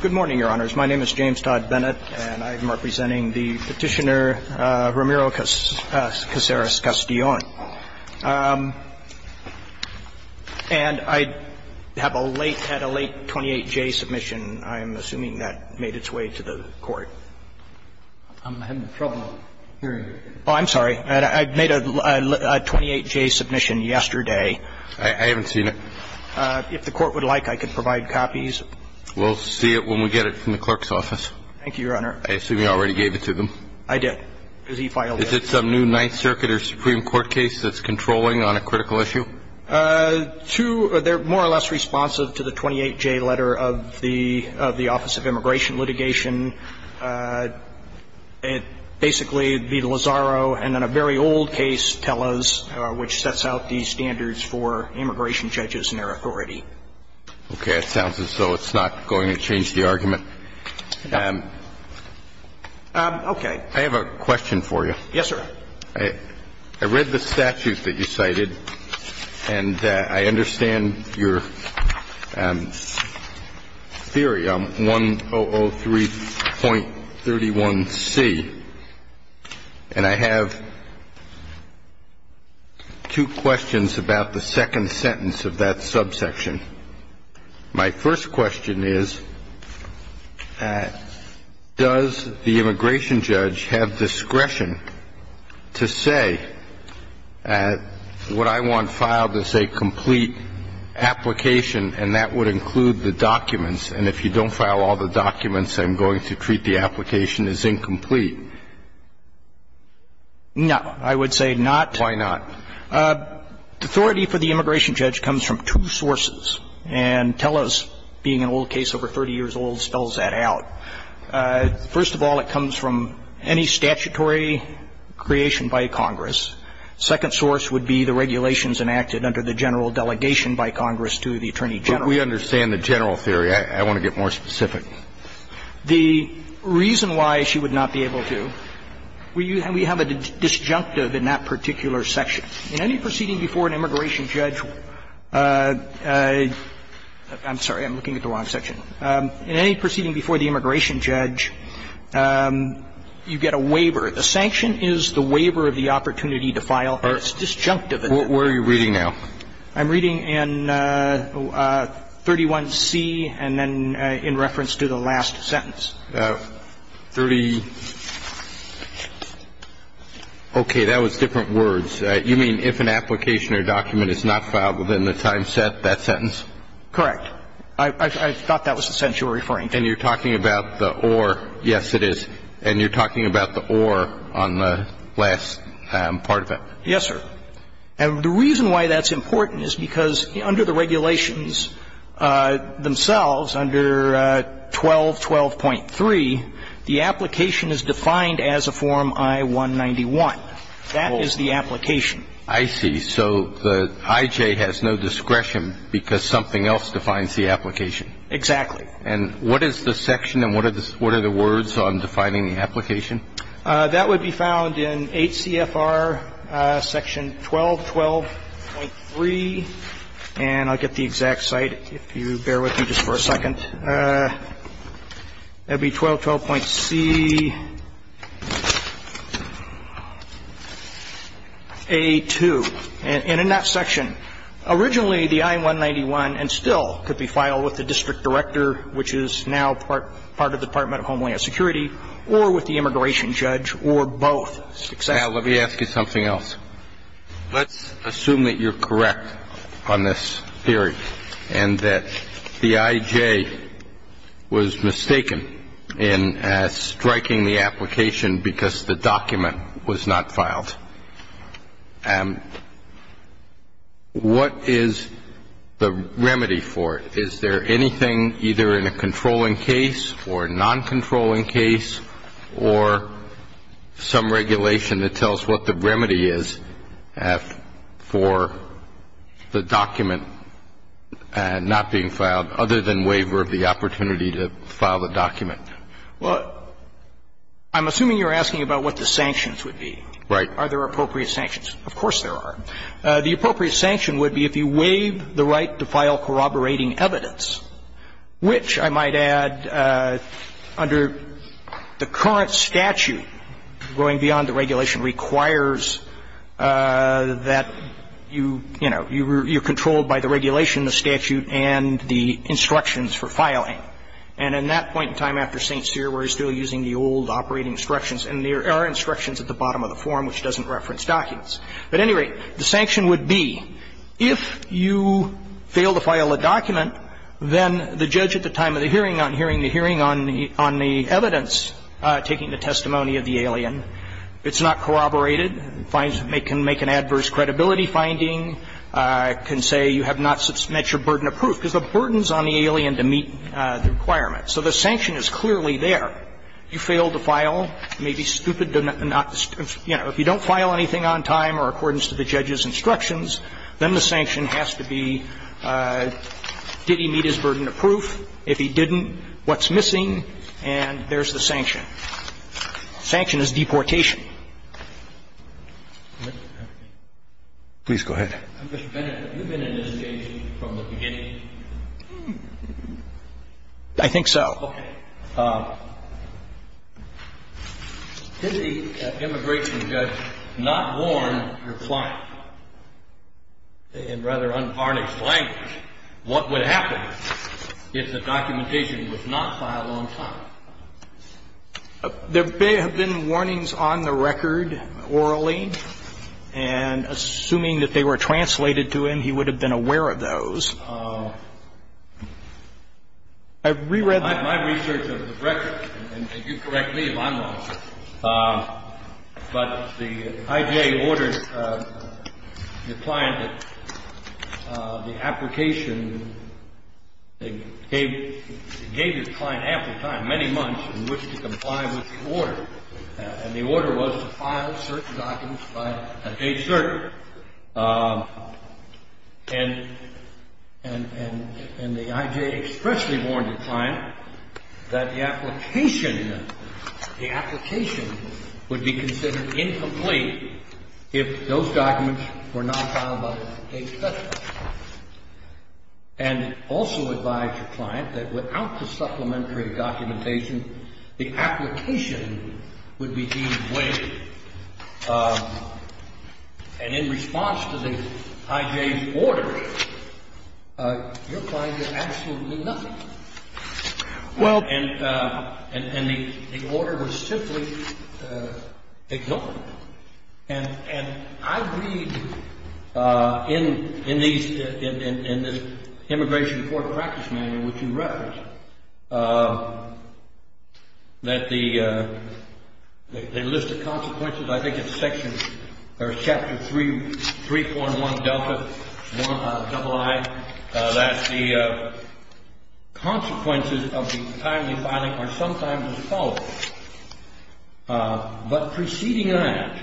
Good morning, Your Honors. My name is James Todd Bennett, and I am representing the Petitioner, Ramiro Casares-Castellon. And I have a late, had a late 28J submission. I'm assuming that made its way to the Court. I'm sorry. I made a 28J submission yesterday. I haven't seen it. If the Court would like, I could provide copies. We'll see it when we get it from the clerk's office. Thank you, Your Honor. I assume you already gave it to them. I did, because he filed it. Is it some new Ninth Circuit or Supreme Court case that's controlling on a critical issue? Two. They're more or less responsive to the 28J letter of the Office of Immigration Litigation. Basically, the Lazaro and then a very old case, Tellos, which sets out the standards for immigration judges and their authority. Okay. It sounds as though it's not going to change the argument. Okay. I have a question for you. Yes, sir. I read the statute that you cited, and I understand your theory on 1003.31c. And I have two questions about the second sentence of that subsection. My first question is, does the immigration judge have discretion to say, what I want filed is a complete application and that would include the documents, and if you don't file all the documents, I'm going to treat the application as incomplete? No. I would say not. Why not? Authority for the immigration judge comes from two sources. And Tellos, being an old case over 30 years old, spells that out. First of all, it comes from any statutory creation by Congress. Second source would be the regulations enacted under the general delegation by Congress to the Attorney General. We understand the general theory. I want to get more specific. The reason why she would not be able to, we have a disjunctive in that particular section. In any proceeding before an immigration judge – I'm sorry. I'm looking at the wrong section. In any proceeding before the immigration judge, you get a waiver. The sanction is the waiver of the opportunity to file. It's disjunctive. Where are you reading now? I'm reading in 31C and then in reference to the last sentence. Thirty. Okay. That was different words. You mean if an application or document is not filed within the time set, that sentence? Correct. I thought that was the sentence you were referring to. And you're talking about the or. Yes, it is. And you're talking about the or on the last part of it. Yes, sir. And the reason why that's important is because under the regulations themselves, under 1212.3, the application is defined as a form I-191. That is the application. I see. So the IJ has no discretion because something else defines the application. Exactly. And what is the section and what are the words on defining the application? Section 1212.3. And I'll get the exact site if you bear with me just for a second. That would be 1212.CA2. And in that section, originally the I-191 and still could be filed with the district director, which is now part of the Department of Homeland Security, or with the immigration judge, or both. Exactly. Now, let me ask you something else. Let's assume that you're correct on this theory and that the IJ was mistaken in striking the application because the document was not filed. What is the remedy for it? Is there anything either in a controlling case or a noncontrolling case or some regulation that tells what the remedy is for the document not being filed, other than waiver of the opportunity to file the document? Well, I'm assuming you're asking about what the sanctions would be. Right. Are there appropriate sanctions? Of course there are. The appropriate sanction would be if you waive the right to file corroborating evidence, which I might add, under the current statute, going beyond the regulation, requires that you, you know, you're controlled by the regulation, the statute, and the instructions for filing. And in that point in time after St. Cyr, we're still using the old operating instructions, and there are instructions at the bottom of the form which doesn't reference documents. But at any rate, the sanction would be if you fail to file a document, then the judge at the time of the hearing on hearing the hearing on the evidence taking the testimony of the alien, it's not corroborated, can make an adverse credibility finding, can say you have not met your burden of proof because the burden is on the alien to meet the requirement. So the sanction is clearly there. If you fail to file, it may be stupid to not, you know, if you don't file anything on time or accordance to the judge's instructions, then the sanction has to be did he meet his burden of proof? If he didn't, what's missing? And there's the sanction. Sanction is deportation. Please go ahead. Mr. Bennett, have you been in this case from the beginning? I think so. Okay. Did the immigration judge not warn your client? In rather unharnessed language, what would happen if the documentation was not filed on time? There may have been warnings on the record orally. And assuming that they were translated to him, he would have been aware of those. My research of the record, and if you correct me if I'm wrong, but the IJA ordered the client that the application, they gave the client ample time, many months, in which to comply with the order. And the order was to file certain documents by a date certain. And the IJA expressly warned the client that the application, the application would be considered incomplete if those documents were not filed by a date certain. And also advised the client that without the supplementary documentation, the application would be deemed waste. And in response to the IJA's order, your client did absolutely nothing. And the order was simply ignored. And I read in the immigration court practice manual, which you referenced, that the list of consequences, I think it's section, or chapter 3, 3.1 delta, double I, that the consequences of the timely filing are sometimes as follows. But preceding that,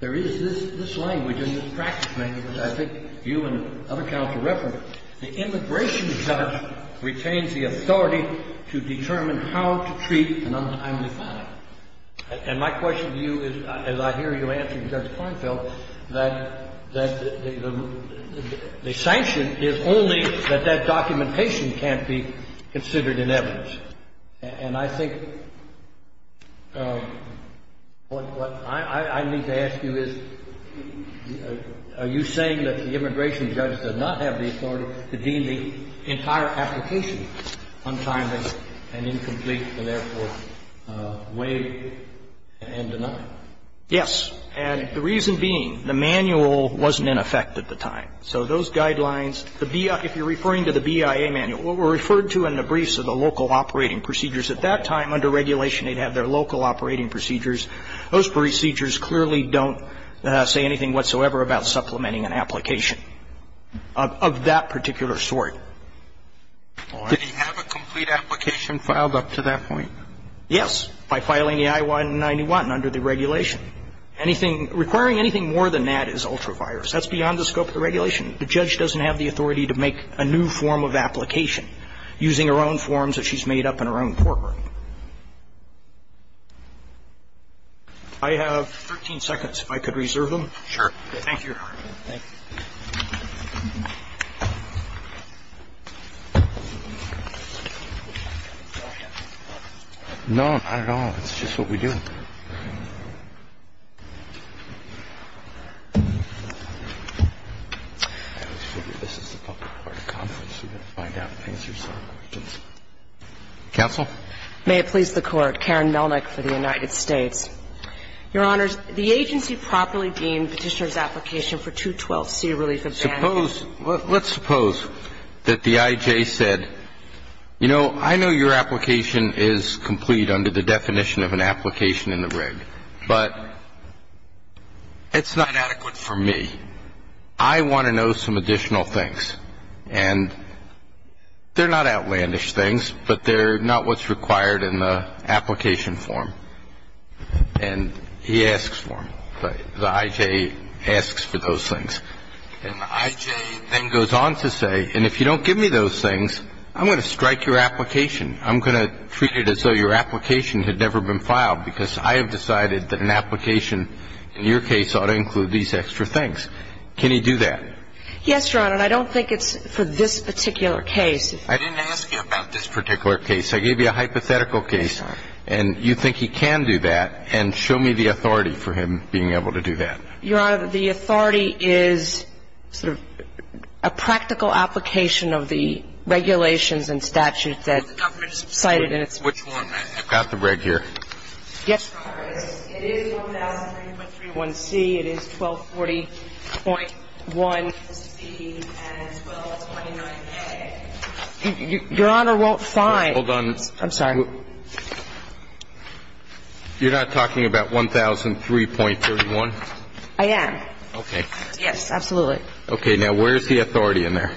there is this language in this practice manual that I think you and other counsel referenced, the immigration judge retains the authority to determine how to treat an untimely filing. And my question to you is, as I hear you answering Judge Kornfeld, that the sanction is only that that documentation can't be considered in evidence. And I think what I need to ask you is, are you saying that the immigration judge does not have the authority to deem the entire application untimely and incomplete and therefore waive and deny? Yes. And the reason being, the manual wasn't in effect at the time. So those guidelines, the BIA, if you're referring to the BIA manual, what were referred to in the briefs are the local operating procedures. At that time, under regulation, they'd have their local operating procedures. Those procedures clearly don't say anything whatsoever about supplementing an application of that particular sort. Did he have a complete application filed up to that point? Yes, by filing the I-191 under the regulation. Anything, requiring anything more than that is ultra-virus. That's beyond the scope of the regulation. The judge doesn't have the authority to make a new form of application. Using her own forms that she's made up in her own courtroom. I have 13 seconds, if I could reserve them. Sure. Thank you. Thank you. No, not at all. It's just what we do. Counsel? May it please the Court. Karen Melnick for the United States. Your Honors, the agency properly deemed Petitioner's application for 212C relief of damages. Let's suppose that the IJ said, you know, I know your application is complete under the definition of an application in the reg, but it's not adequate for me. I want to know some additional things. And they're not outlandish things, but they're not what's required in the application form. And he asks for them. The IJ asks for those things. And the IJ then goes on to say, and if you don't give me those things, I'm going to strike your application. I'm going to treat it as though your application had never been filed, because I have decided that an application, in your case, ought to include these extra things. Can he do that? Yes, Your Honor. And I don't think it's for this particular case. I didn't ask you about this particular case. I gave you a hypothetical case. And you think he can do that. And show me the authority for him being able to do that. Your Honor, the authority is sort of a practical application of the regulations and statutes that's cited in its reg. Which one? I've got the reg here. Yes, Your Honor. It is 1003.31c. It is 1240.1c and 1229a. Your Honor, well, fine. Hold on. I'm sorry. You're not talking about 1003.31? I am. Okay. Yes, absolutely. Okay. Now, where's the authority in there?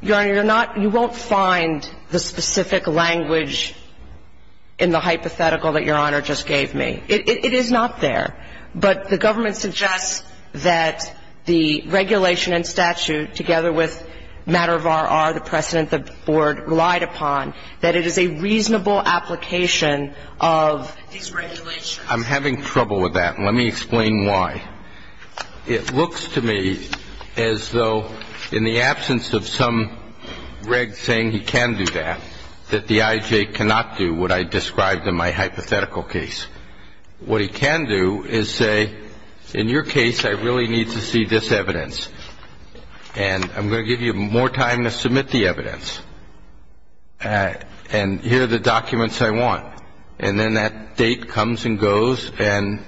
Your Honor, you're not you won't find the specific language in the hypothetical that Your Honor just gave me. It is not there. But the government suggests that the regulation and statute, together with matter of R.R., the precedent the Board relied upon, that it is a reasonable application of these regulations. I'm having trouble with that. Let me explain why. It looks to me as though in the absence of some reg saying he can do that, that the I.J. cannot do what I described in my hypothetical case. What he can do is say, in your case, I really need to see this evidence. And I'm going to give you more time to submit the evidence. And here are the documents I want. And then that date comes and goes, and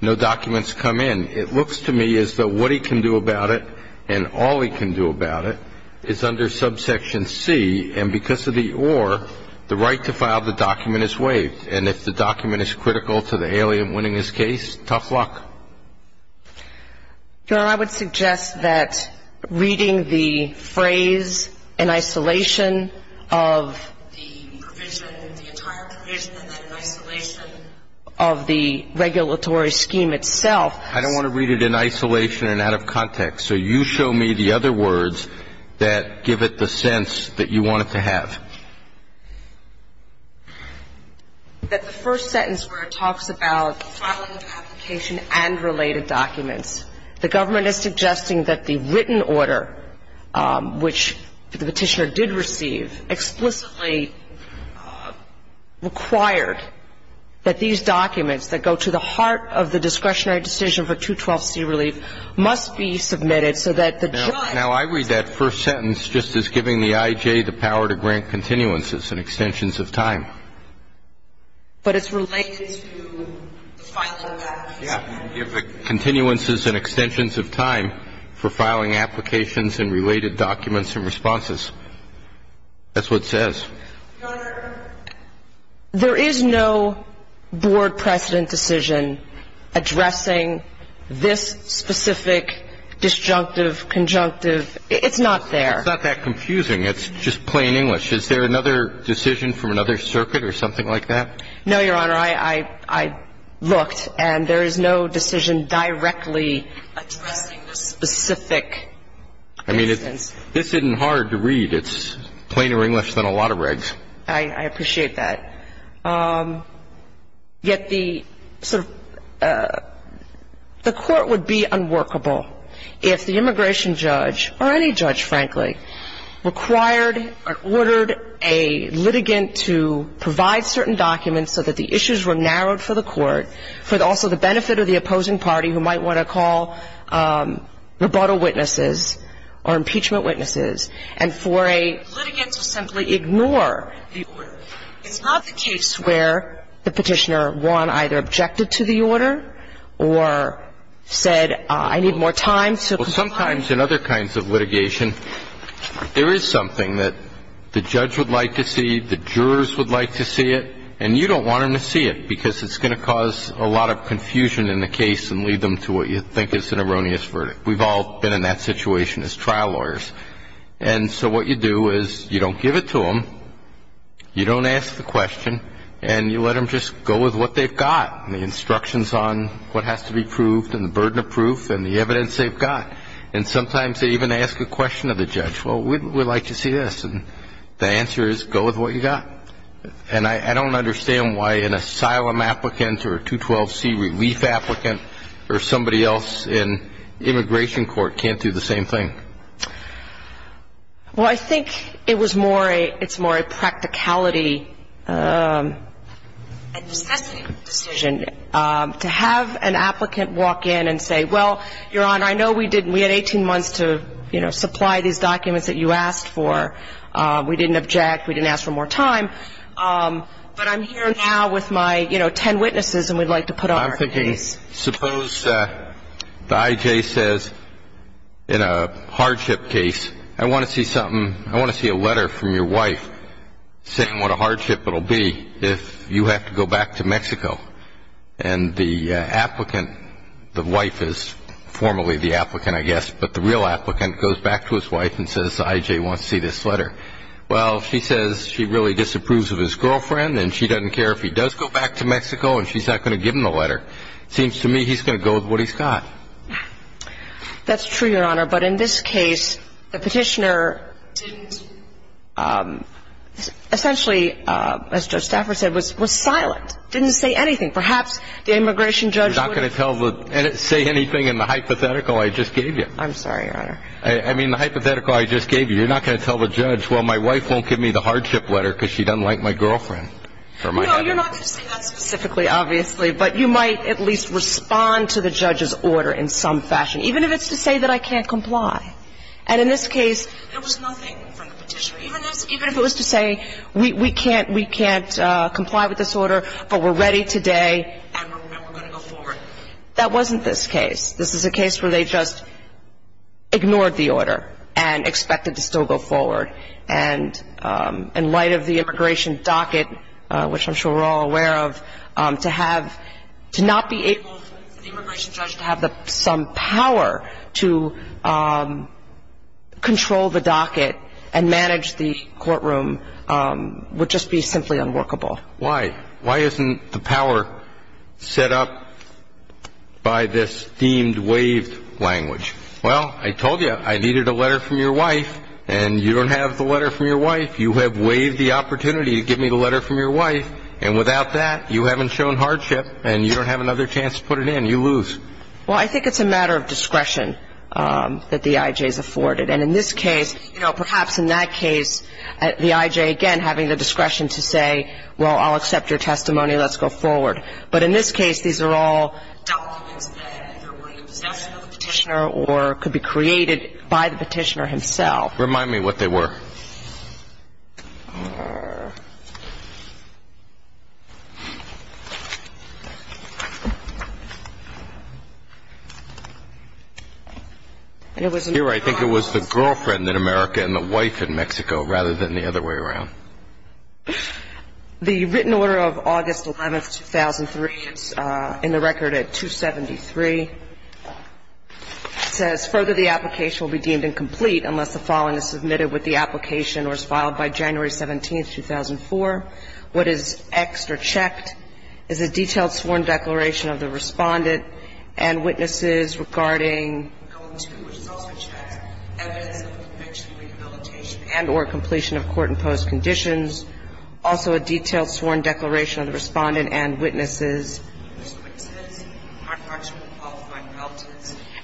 no documents come in. It looks to me as though what he can do about it and all he can do about it is under subsection C, and because of the or, the right to file the document is waived. And if the document is critical to the alien winning his case, tough luck. Your Honor, I would suggest that reading the phrase in isolation of the provision, the entire provision, and then in isolation of the regulatory scheme itself. I don't want to read it in isolation and out of context. So you show me the other words that give it the sense that you want it to have. That the first sentence where it talks about filing of application and related documents, the government is suggesting that the written order which the Petitioner did receive explicitly required that these documents that go to the heart of the discretionary decision for 212C relief must be submitted so that the judge. Now, I read that first sentence just as giving the I.J. the power to grant consent. Mr. Cannon, there was no natural intent there. It's what says in the continuances and extensions of time. It'slife attending to request. The Continuances and Extensions of Time for Filing Applications and Related Documents and Responses. That's what it says. Your Honor, there is no board precedent decision addressing this specific disjunctive, conjunctive. It's not there. It's not that confusing. It's just plain English. Is there another decision from another circuit or something like that? No, Your Honor. I looked, and there is no decision directly addressing the specific instance. I mean, this isn't hard to read. It's plainer English than a lot of regs. I appreciate that. Yet the sort of the Court would be unworkable if the immigration judge or any judge, frankly, required or ordered a litigant to provide certain documents so that the issues were narrowed for the Court, for also the benefit of the opposing party who might want to call rebuttal witnesses or impeachment witnesses, and for a litigant to simply ignore the order. It's not the case where the Petitioner, one, either objected to the order or said, I need more time to comply. Well, sometimes in other kinds of litigation, there is something that the judge would like to see, the jurors would like to see it, and you don't want them to see it because it's going to cause a lot of confusion in the case and lead them to what you think is an erroneous verdict. We've all been in that situation as trial lawyers. And so what you do is you don't give it to them, you don't ask the question, and you let them just go with what they've got, the instructions on what has to be proved and the burden of proof and the evidence they've got. And sometimes they even ask a question of the judge. Well, we'd like to see this. And the answer is go with what you've got. And I don't understand why an asylum applicant or a 212C relief applicant or somebody else in immigration court can't do the same thing. Well, I think it was more a practicality and necessity decision to have an applicant walk in and say, well, Your Honor, I know we had 18 months to supply these documents that you asked for. We didn't object. We didn't ask for more time. But I'm here now with my, you know, ten witnesses, and we'd like to put on our case. Suppose the I.J. says in a hardship case, I want to see something, I want to see a letter from your wife saying what a hardship it will be if you have to go back to Mexico. And the applicant, the wife is formally the applicant, I guess, but the real applicant goes back to his wife and says the I.J. wants to see this letter. Well, she says she really disapproves of his girlfriend, and she doesn't care if he does go back to Mexico and she's not going to give him the letter. It seems to me he's going to go with what he's got. That's true, Your Honor. But in this case, the petitioner didn't, essentially, as Judge Stafford said, was silent, didn't say anything. Perhaps the immigration judge would have. You're not going to say anything in the hypothetical I just gave you. I'm sorry, Your Honor. I mean, the hypothetical I just gave you, you're not going to tell the judge, well, my wife won't give me the hardship letter because she doesn't like my girlfriend. No, you're not going to say that specifically, obviously, but you might at least respond to the judge's order in some fashion, even if it's to say that I can't comply. And in this case, there was nothing from the petitioner, even if it was to say we can't comply with this order, but we're ready today and we're going to go forward. That wasn't this case. This is a case where they just ignored the order and expected to still go forward. And in light of the immigration docket, which I'm sure we're all aware of, to have to not be able for the immigration judge to have some power to control the docket and manage the courtroom would just be simply unworkable. Why? Why isn't the power set up by this deemed waived language? Well, I told you I needed a letter from your wife, and you don't have the letter from your wife. You have waived the opportunity to give me the letter from your wife, and without that you haven't shown hardship and you don't have another chance to put it in. You lose. Well, I think it's a matter of discretion that the I.J. is afforded. And in this case, you know, perhaps in that case, the I.J., again, having the discretion to say, well, I'll accept your testimony, let's go forward. But in this case, these are all documents that could be created by the petitioner himself. Remind me what they were. Here, I think it was the girlfriend in America and the wife in Mexico rather than the other way around. The written order of August 11, 2003, in the record at 273, says, further the application will be deemed incomplete unless the following is submitted with the application What is Xed or checked is a detailed sworn declaration of the respondent and witnesses regarding evidence of a conviction of rehabilitation and or completion of court-imposed conditions. Also a detailed sworn declaration of the respondent and witnesses.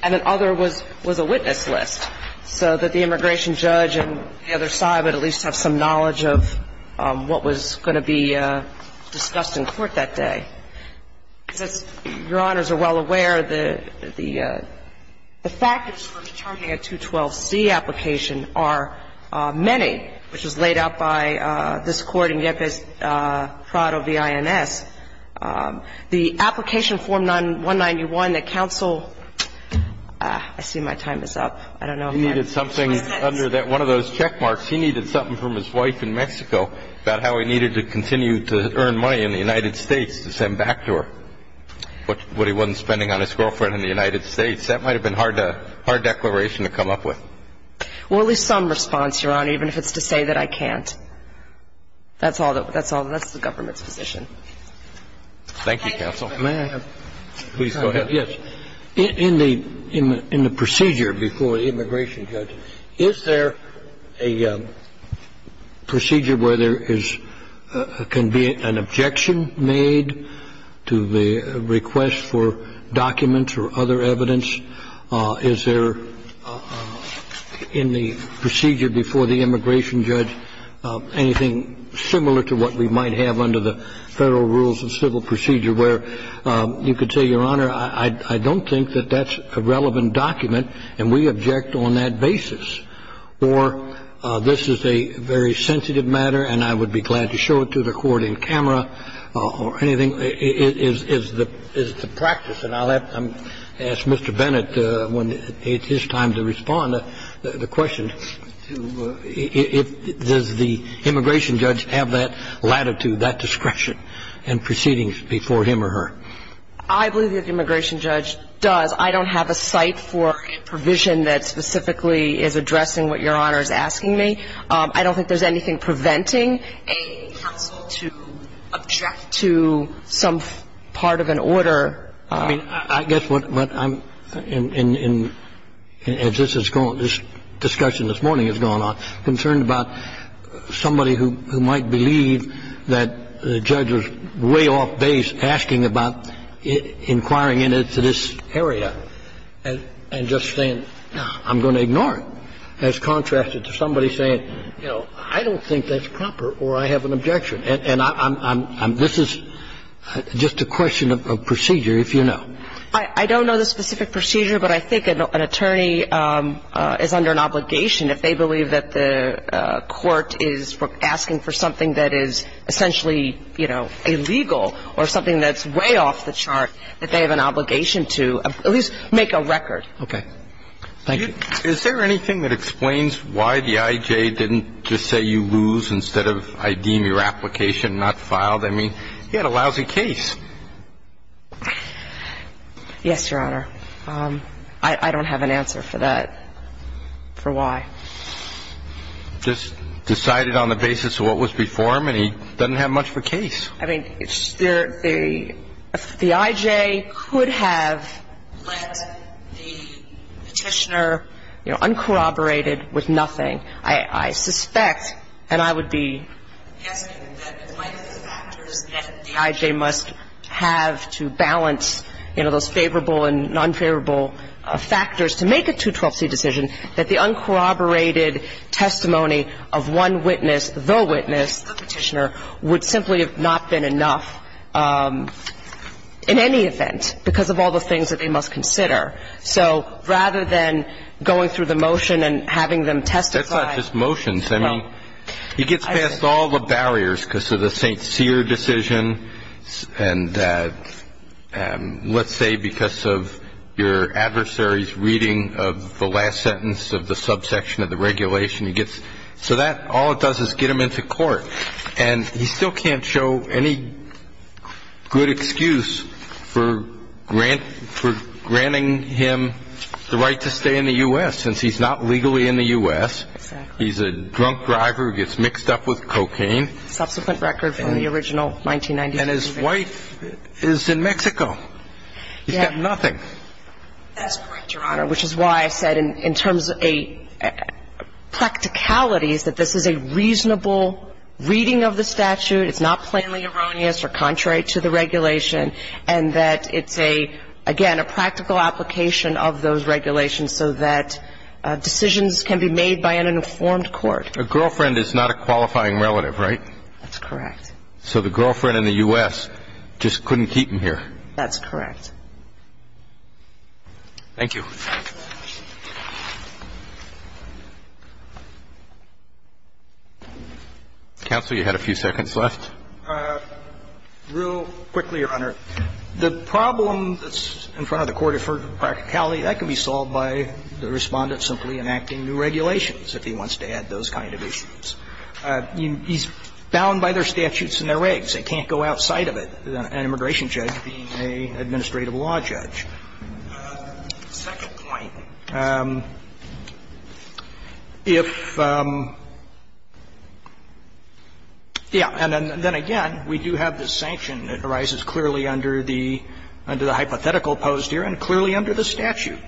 And then other was a witness list so that the immigration judge and the other side would at least have some knowledge of what was going to be discussed in court that day. As Your Honors are well aware, the factors for determining a 212C application are many, which was laid out by this Court in Yepes-Prado v. INS. The application form 191 that counsel – I see my time is up. I don't know if I'm – But he needed something under that one of those check marks. He needed something from his wife in Mexico about how he needed to continue to earn money in the United States to send back to her what he wasn't spending on his girlfriend in the United States. That might have been a hard declaration to come up with. Well, at least some response, Your Honor, even if it's to say that I can't. That's all that's the government's position. Thank you, counsel. May I have – please go ahead. Yes. In the procedure before the immigration judge, is there a procedure where there can be an objection made to the request for documents or other evidence? Is there in the procedure before the immigration judge anything similar to what we might have under the Federal Rules of Civil Procedure where you could say, Your Honor, I don't think that that's a relevant document and we object on that basis, or this is a very sensitive matter and I would be glad to show it to the court in camera, or anything? Is the practice, and I'll ask Mr. Bennett when it's his time to respond, does the immigration judge have that latitude, that discretion in proceedings before him or her? I believe that the immigration judge does. I don't have a site for a provision that specifically is addressing what Your Honor is asking me. I don't think there's anything preventing a counsel to object to some part of an order. I mean, I guess what I'm – as this has gone, this discussion this morning has gone on, concerned about somebody who might believe that the judge was way off base asking about inquiring into this area and just saying, I'm going to ignore it, as contrasted to somebody saying, you know, I don't think that's proper or I have an objection. And I'm – this is just a question of procedure, if you know. I don't know the specific procedure, but I think an attorney is under an obligation if they believe that the court is asking for something that is essentially, you know, illegal or something that's way off the chart, that they have an obligation to at least make a record. Okay. Thank you. Is there anything that explains why the I.J. didn't just say you lose instead of I deem your application not filed? I mean, he had a lousy case. Yes, Your Honor. I don't have an answer for that, for why. Just decided on the basis of what was before him, and he doesn't have much of a case. I mean, the I.J. could have let the Petitioner, you know, uncorroborated with nothing. I suspect, and I would be guessing, that one of the factors that the I.J. must have to balance, you know, those favorable and nonfavorable factors to make a 212c decision, that the uncorroborated testimony of one witness, the witness, the Petitioner, would simply have not been enough in any event because of all the things that they must consider. So rather than going through the motion and having them testify. That's not just motions. I mean, he gets past all the barriers because of the St. Cyr decision and let's say because of your adversary's reading of the last sentence of the subsection of the regulation. He gets so that all it does is get him into court. And he still can't show any good excuse for granting him the right to stay in the U.S. since he's not legally in the U.S. Exactly. He's a drunk driver who gets mixed up with cocaine. Subsequent record from the original 1993. And his wife is in Mexico. He's got nothing. That's correct, Your Honor, which is why I said in terms of a practicality is that this is a reasonable reading of the statute. It's not plainly erroneous or contrary to the regulation. And that it's a, again, a practical application of those regulations so that decisions can be made by an informed court. A girlfriend is not a qualifying relative, right? That's correct. So the girlfriend in the U.S. just couldn't keep him here. That's correct. Thank you. Counsel, you had a few seconds left. Real quickly, Your Honor. The problem that's in front of the court for practicality, that can be solved by the Respondent simply enacting new regulations if he wants to add those kind of issues. He's bound by their statutes and their regs. They can't go outside of it. An immigration judge being an administrative law judge. The second point, if, yeah, and then again, we do have this sanction. It arises clearly under the hypothetical posed here and clearly under the statute.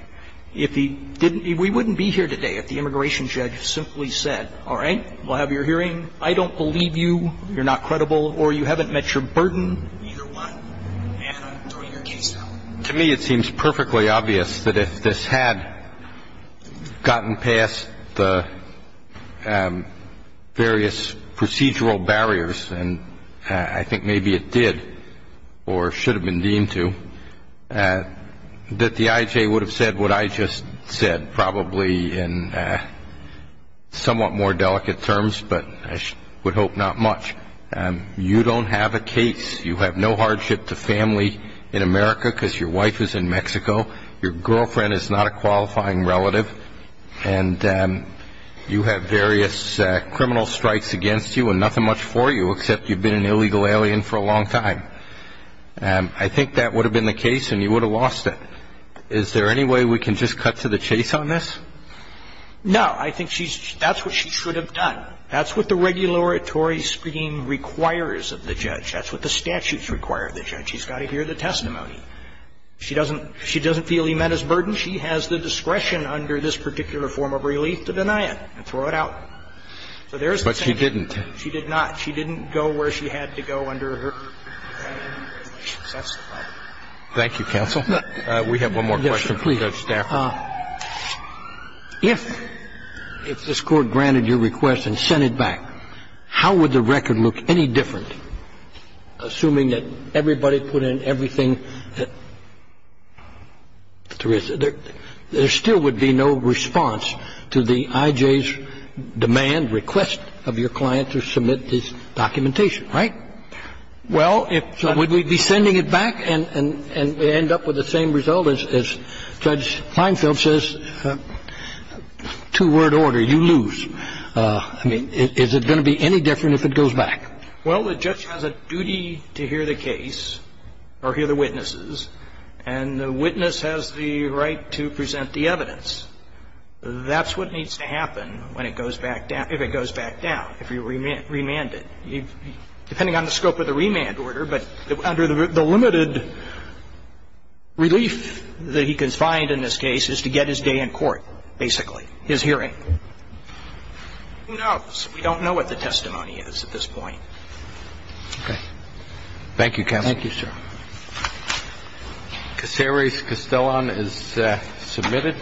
If he didn't, we wouldn't be here today if the immigration judge simply said, all right, we'll have your hearing. I don't believe you. You're not credible. Or you haven't met your burden. To me, it seems perfectly obvious that if this had gotten past the various procedural barriers, and I think maybe it did or should have been deemed to, that the I.J. would have said what I just said, probably in somewhat more delicate terms, but I would hope not much. You don't have a case. You have no hardship to family in America because your wife is in Mexico. Your girlfriend is not a qualifying relative. And you have various criminal strikes against you and nothing much for you, except you've been an illegal alien for a long time. I think that would have been the case and you would have lost it. Is there any way we can just cut to the chase on this? No. I think she's – that's what she should have done. That's what the regulatory scheme requires of the judge. That's what the statutes require of the judge. She's got to hear the testimony. She doesn't feel he met his burden. She has the discretion under this particular form of relief to deny it and throw it out. So there's the thing. But she didn't. She did not. She didn't go where she had to go under her testimony. Thank you, counsel. We have one more question for Judge Stafford. If this Court granted your request and sent it back, how would the record look any different, assuming that everybody put in everything that there is? There still would be no response to the IJ's demand, request of your client to submit this documentation, right? Well, if – Would we be sending it back and end up with the same result as Judge Feinfeld says, two-word order, you lose. I mean, is it going to be any different if it goes back? Well, the judge has a duty to hear the case or hear the witnesses. And the witness has the right to present the evidence. That's what needs to happen when it goes back down – if it goes back down, if you remand it. Depending on the scope of the remand order, but under the limited relief that he can find in this case, is to get his day in court, basically, his hearing. Who knows? We don't know what the testimony is at this point. Okay. Thank you, counsel. Thank you, sir. Cassares-Castellon is submitted.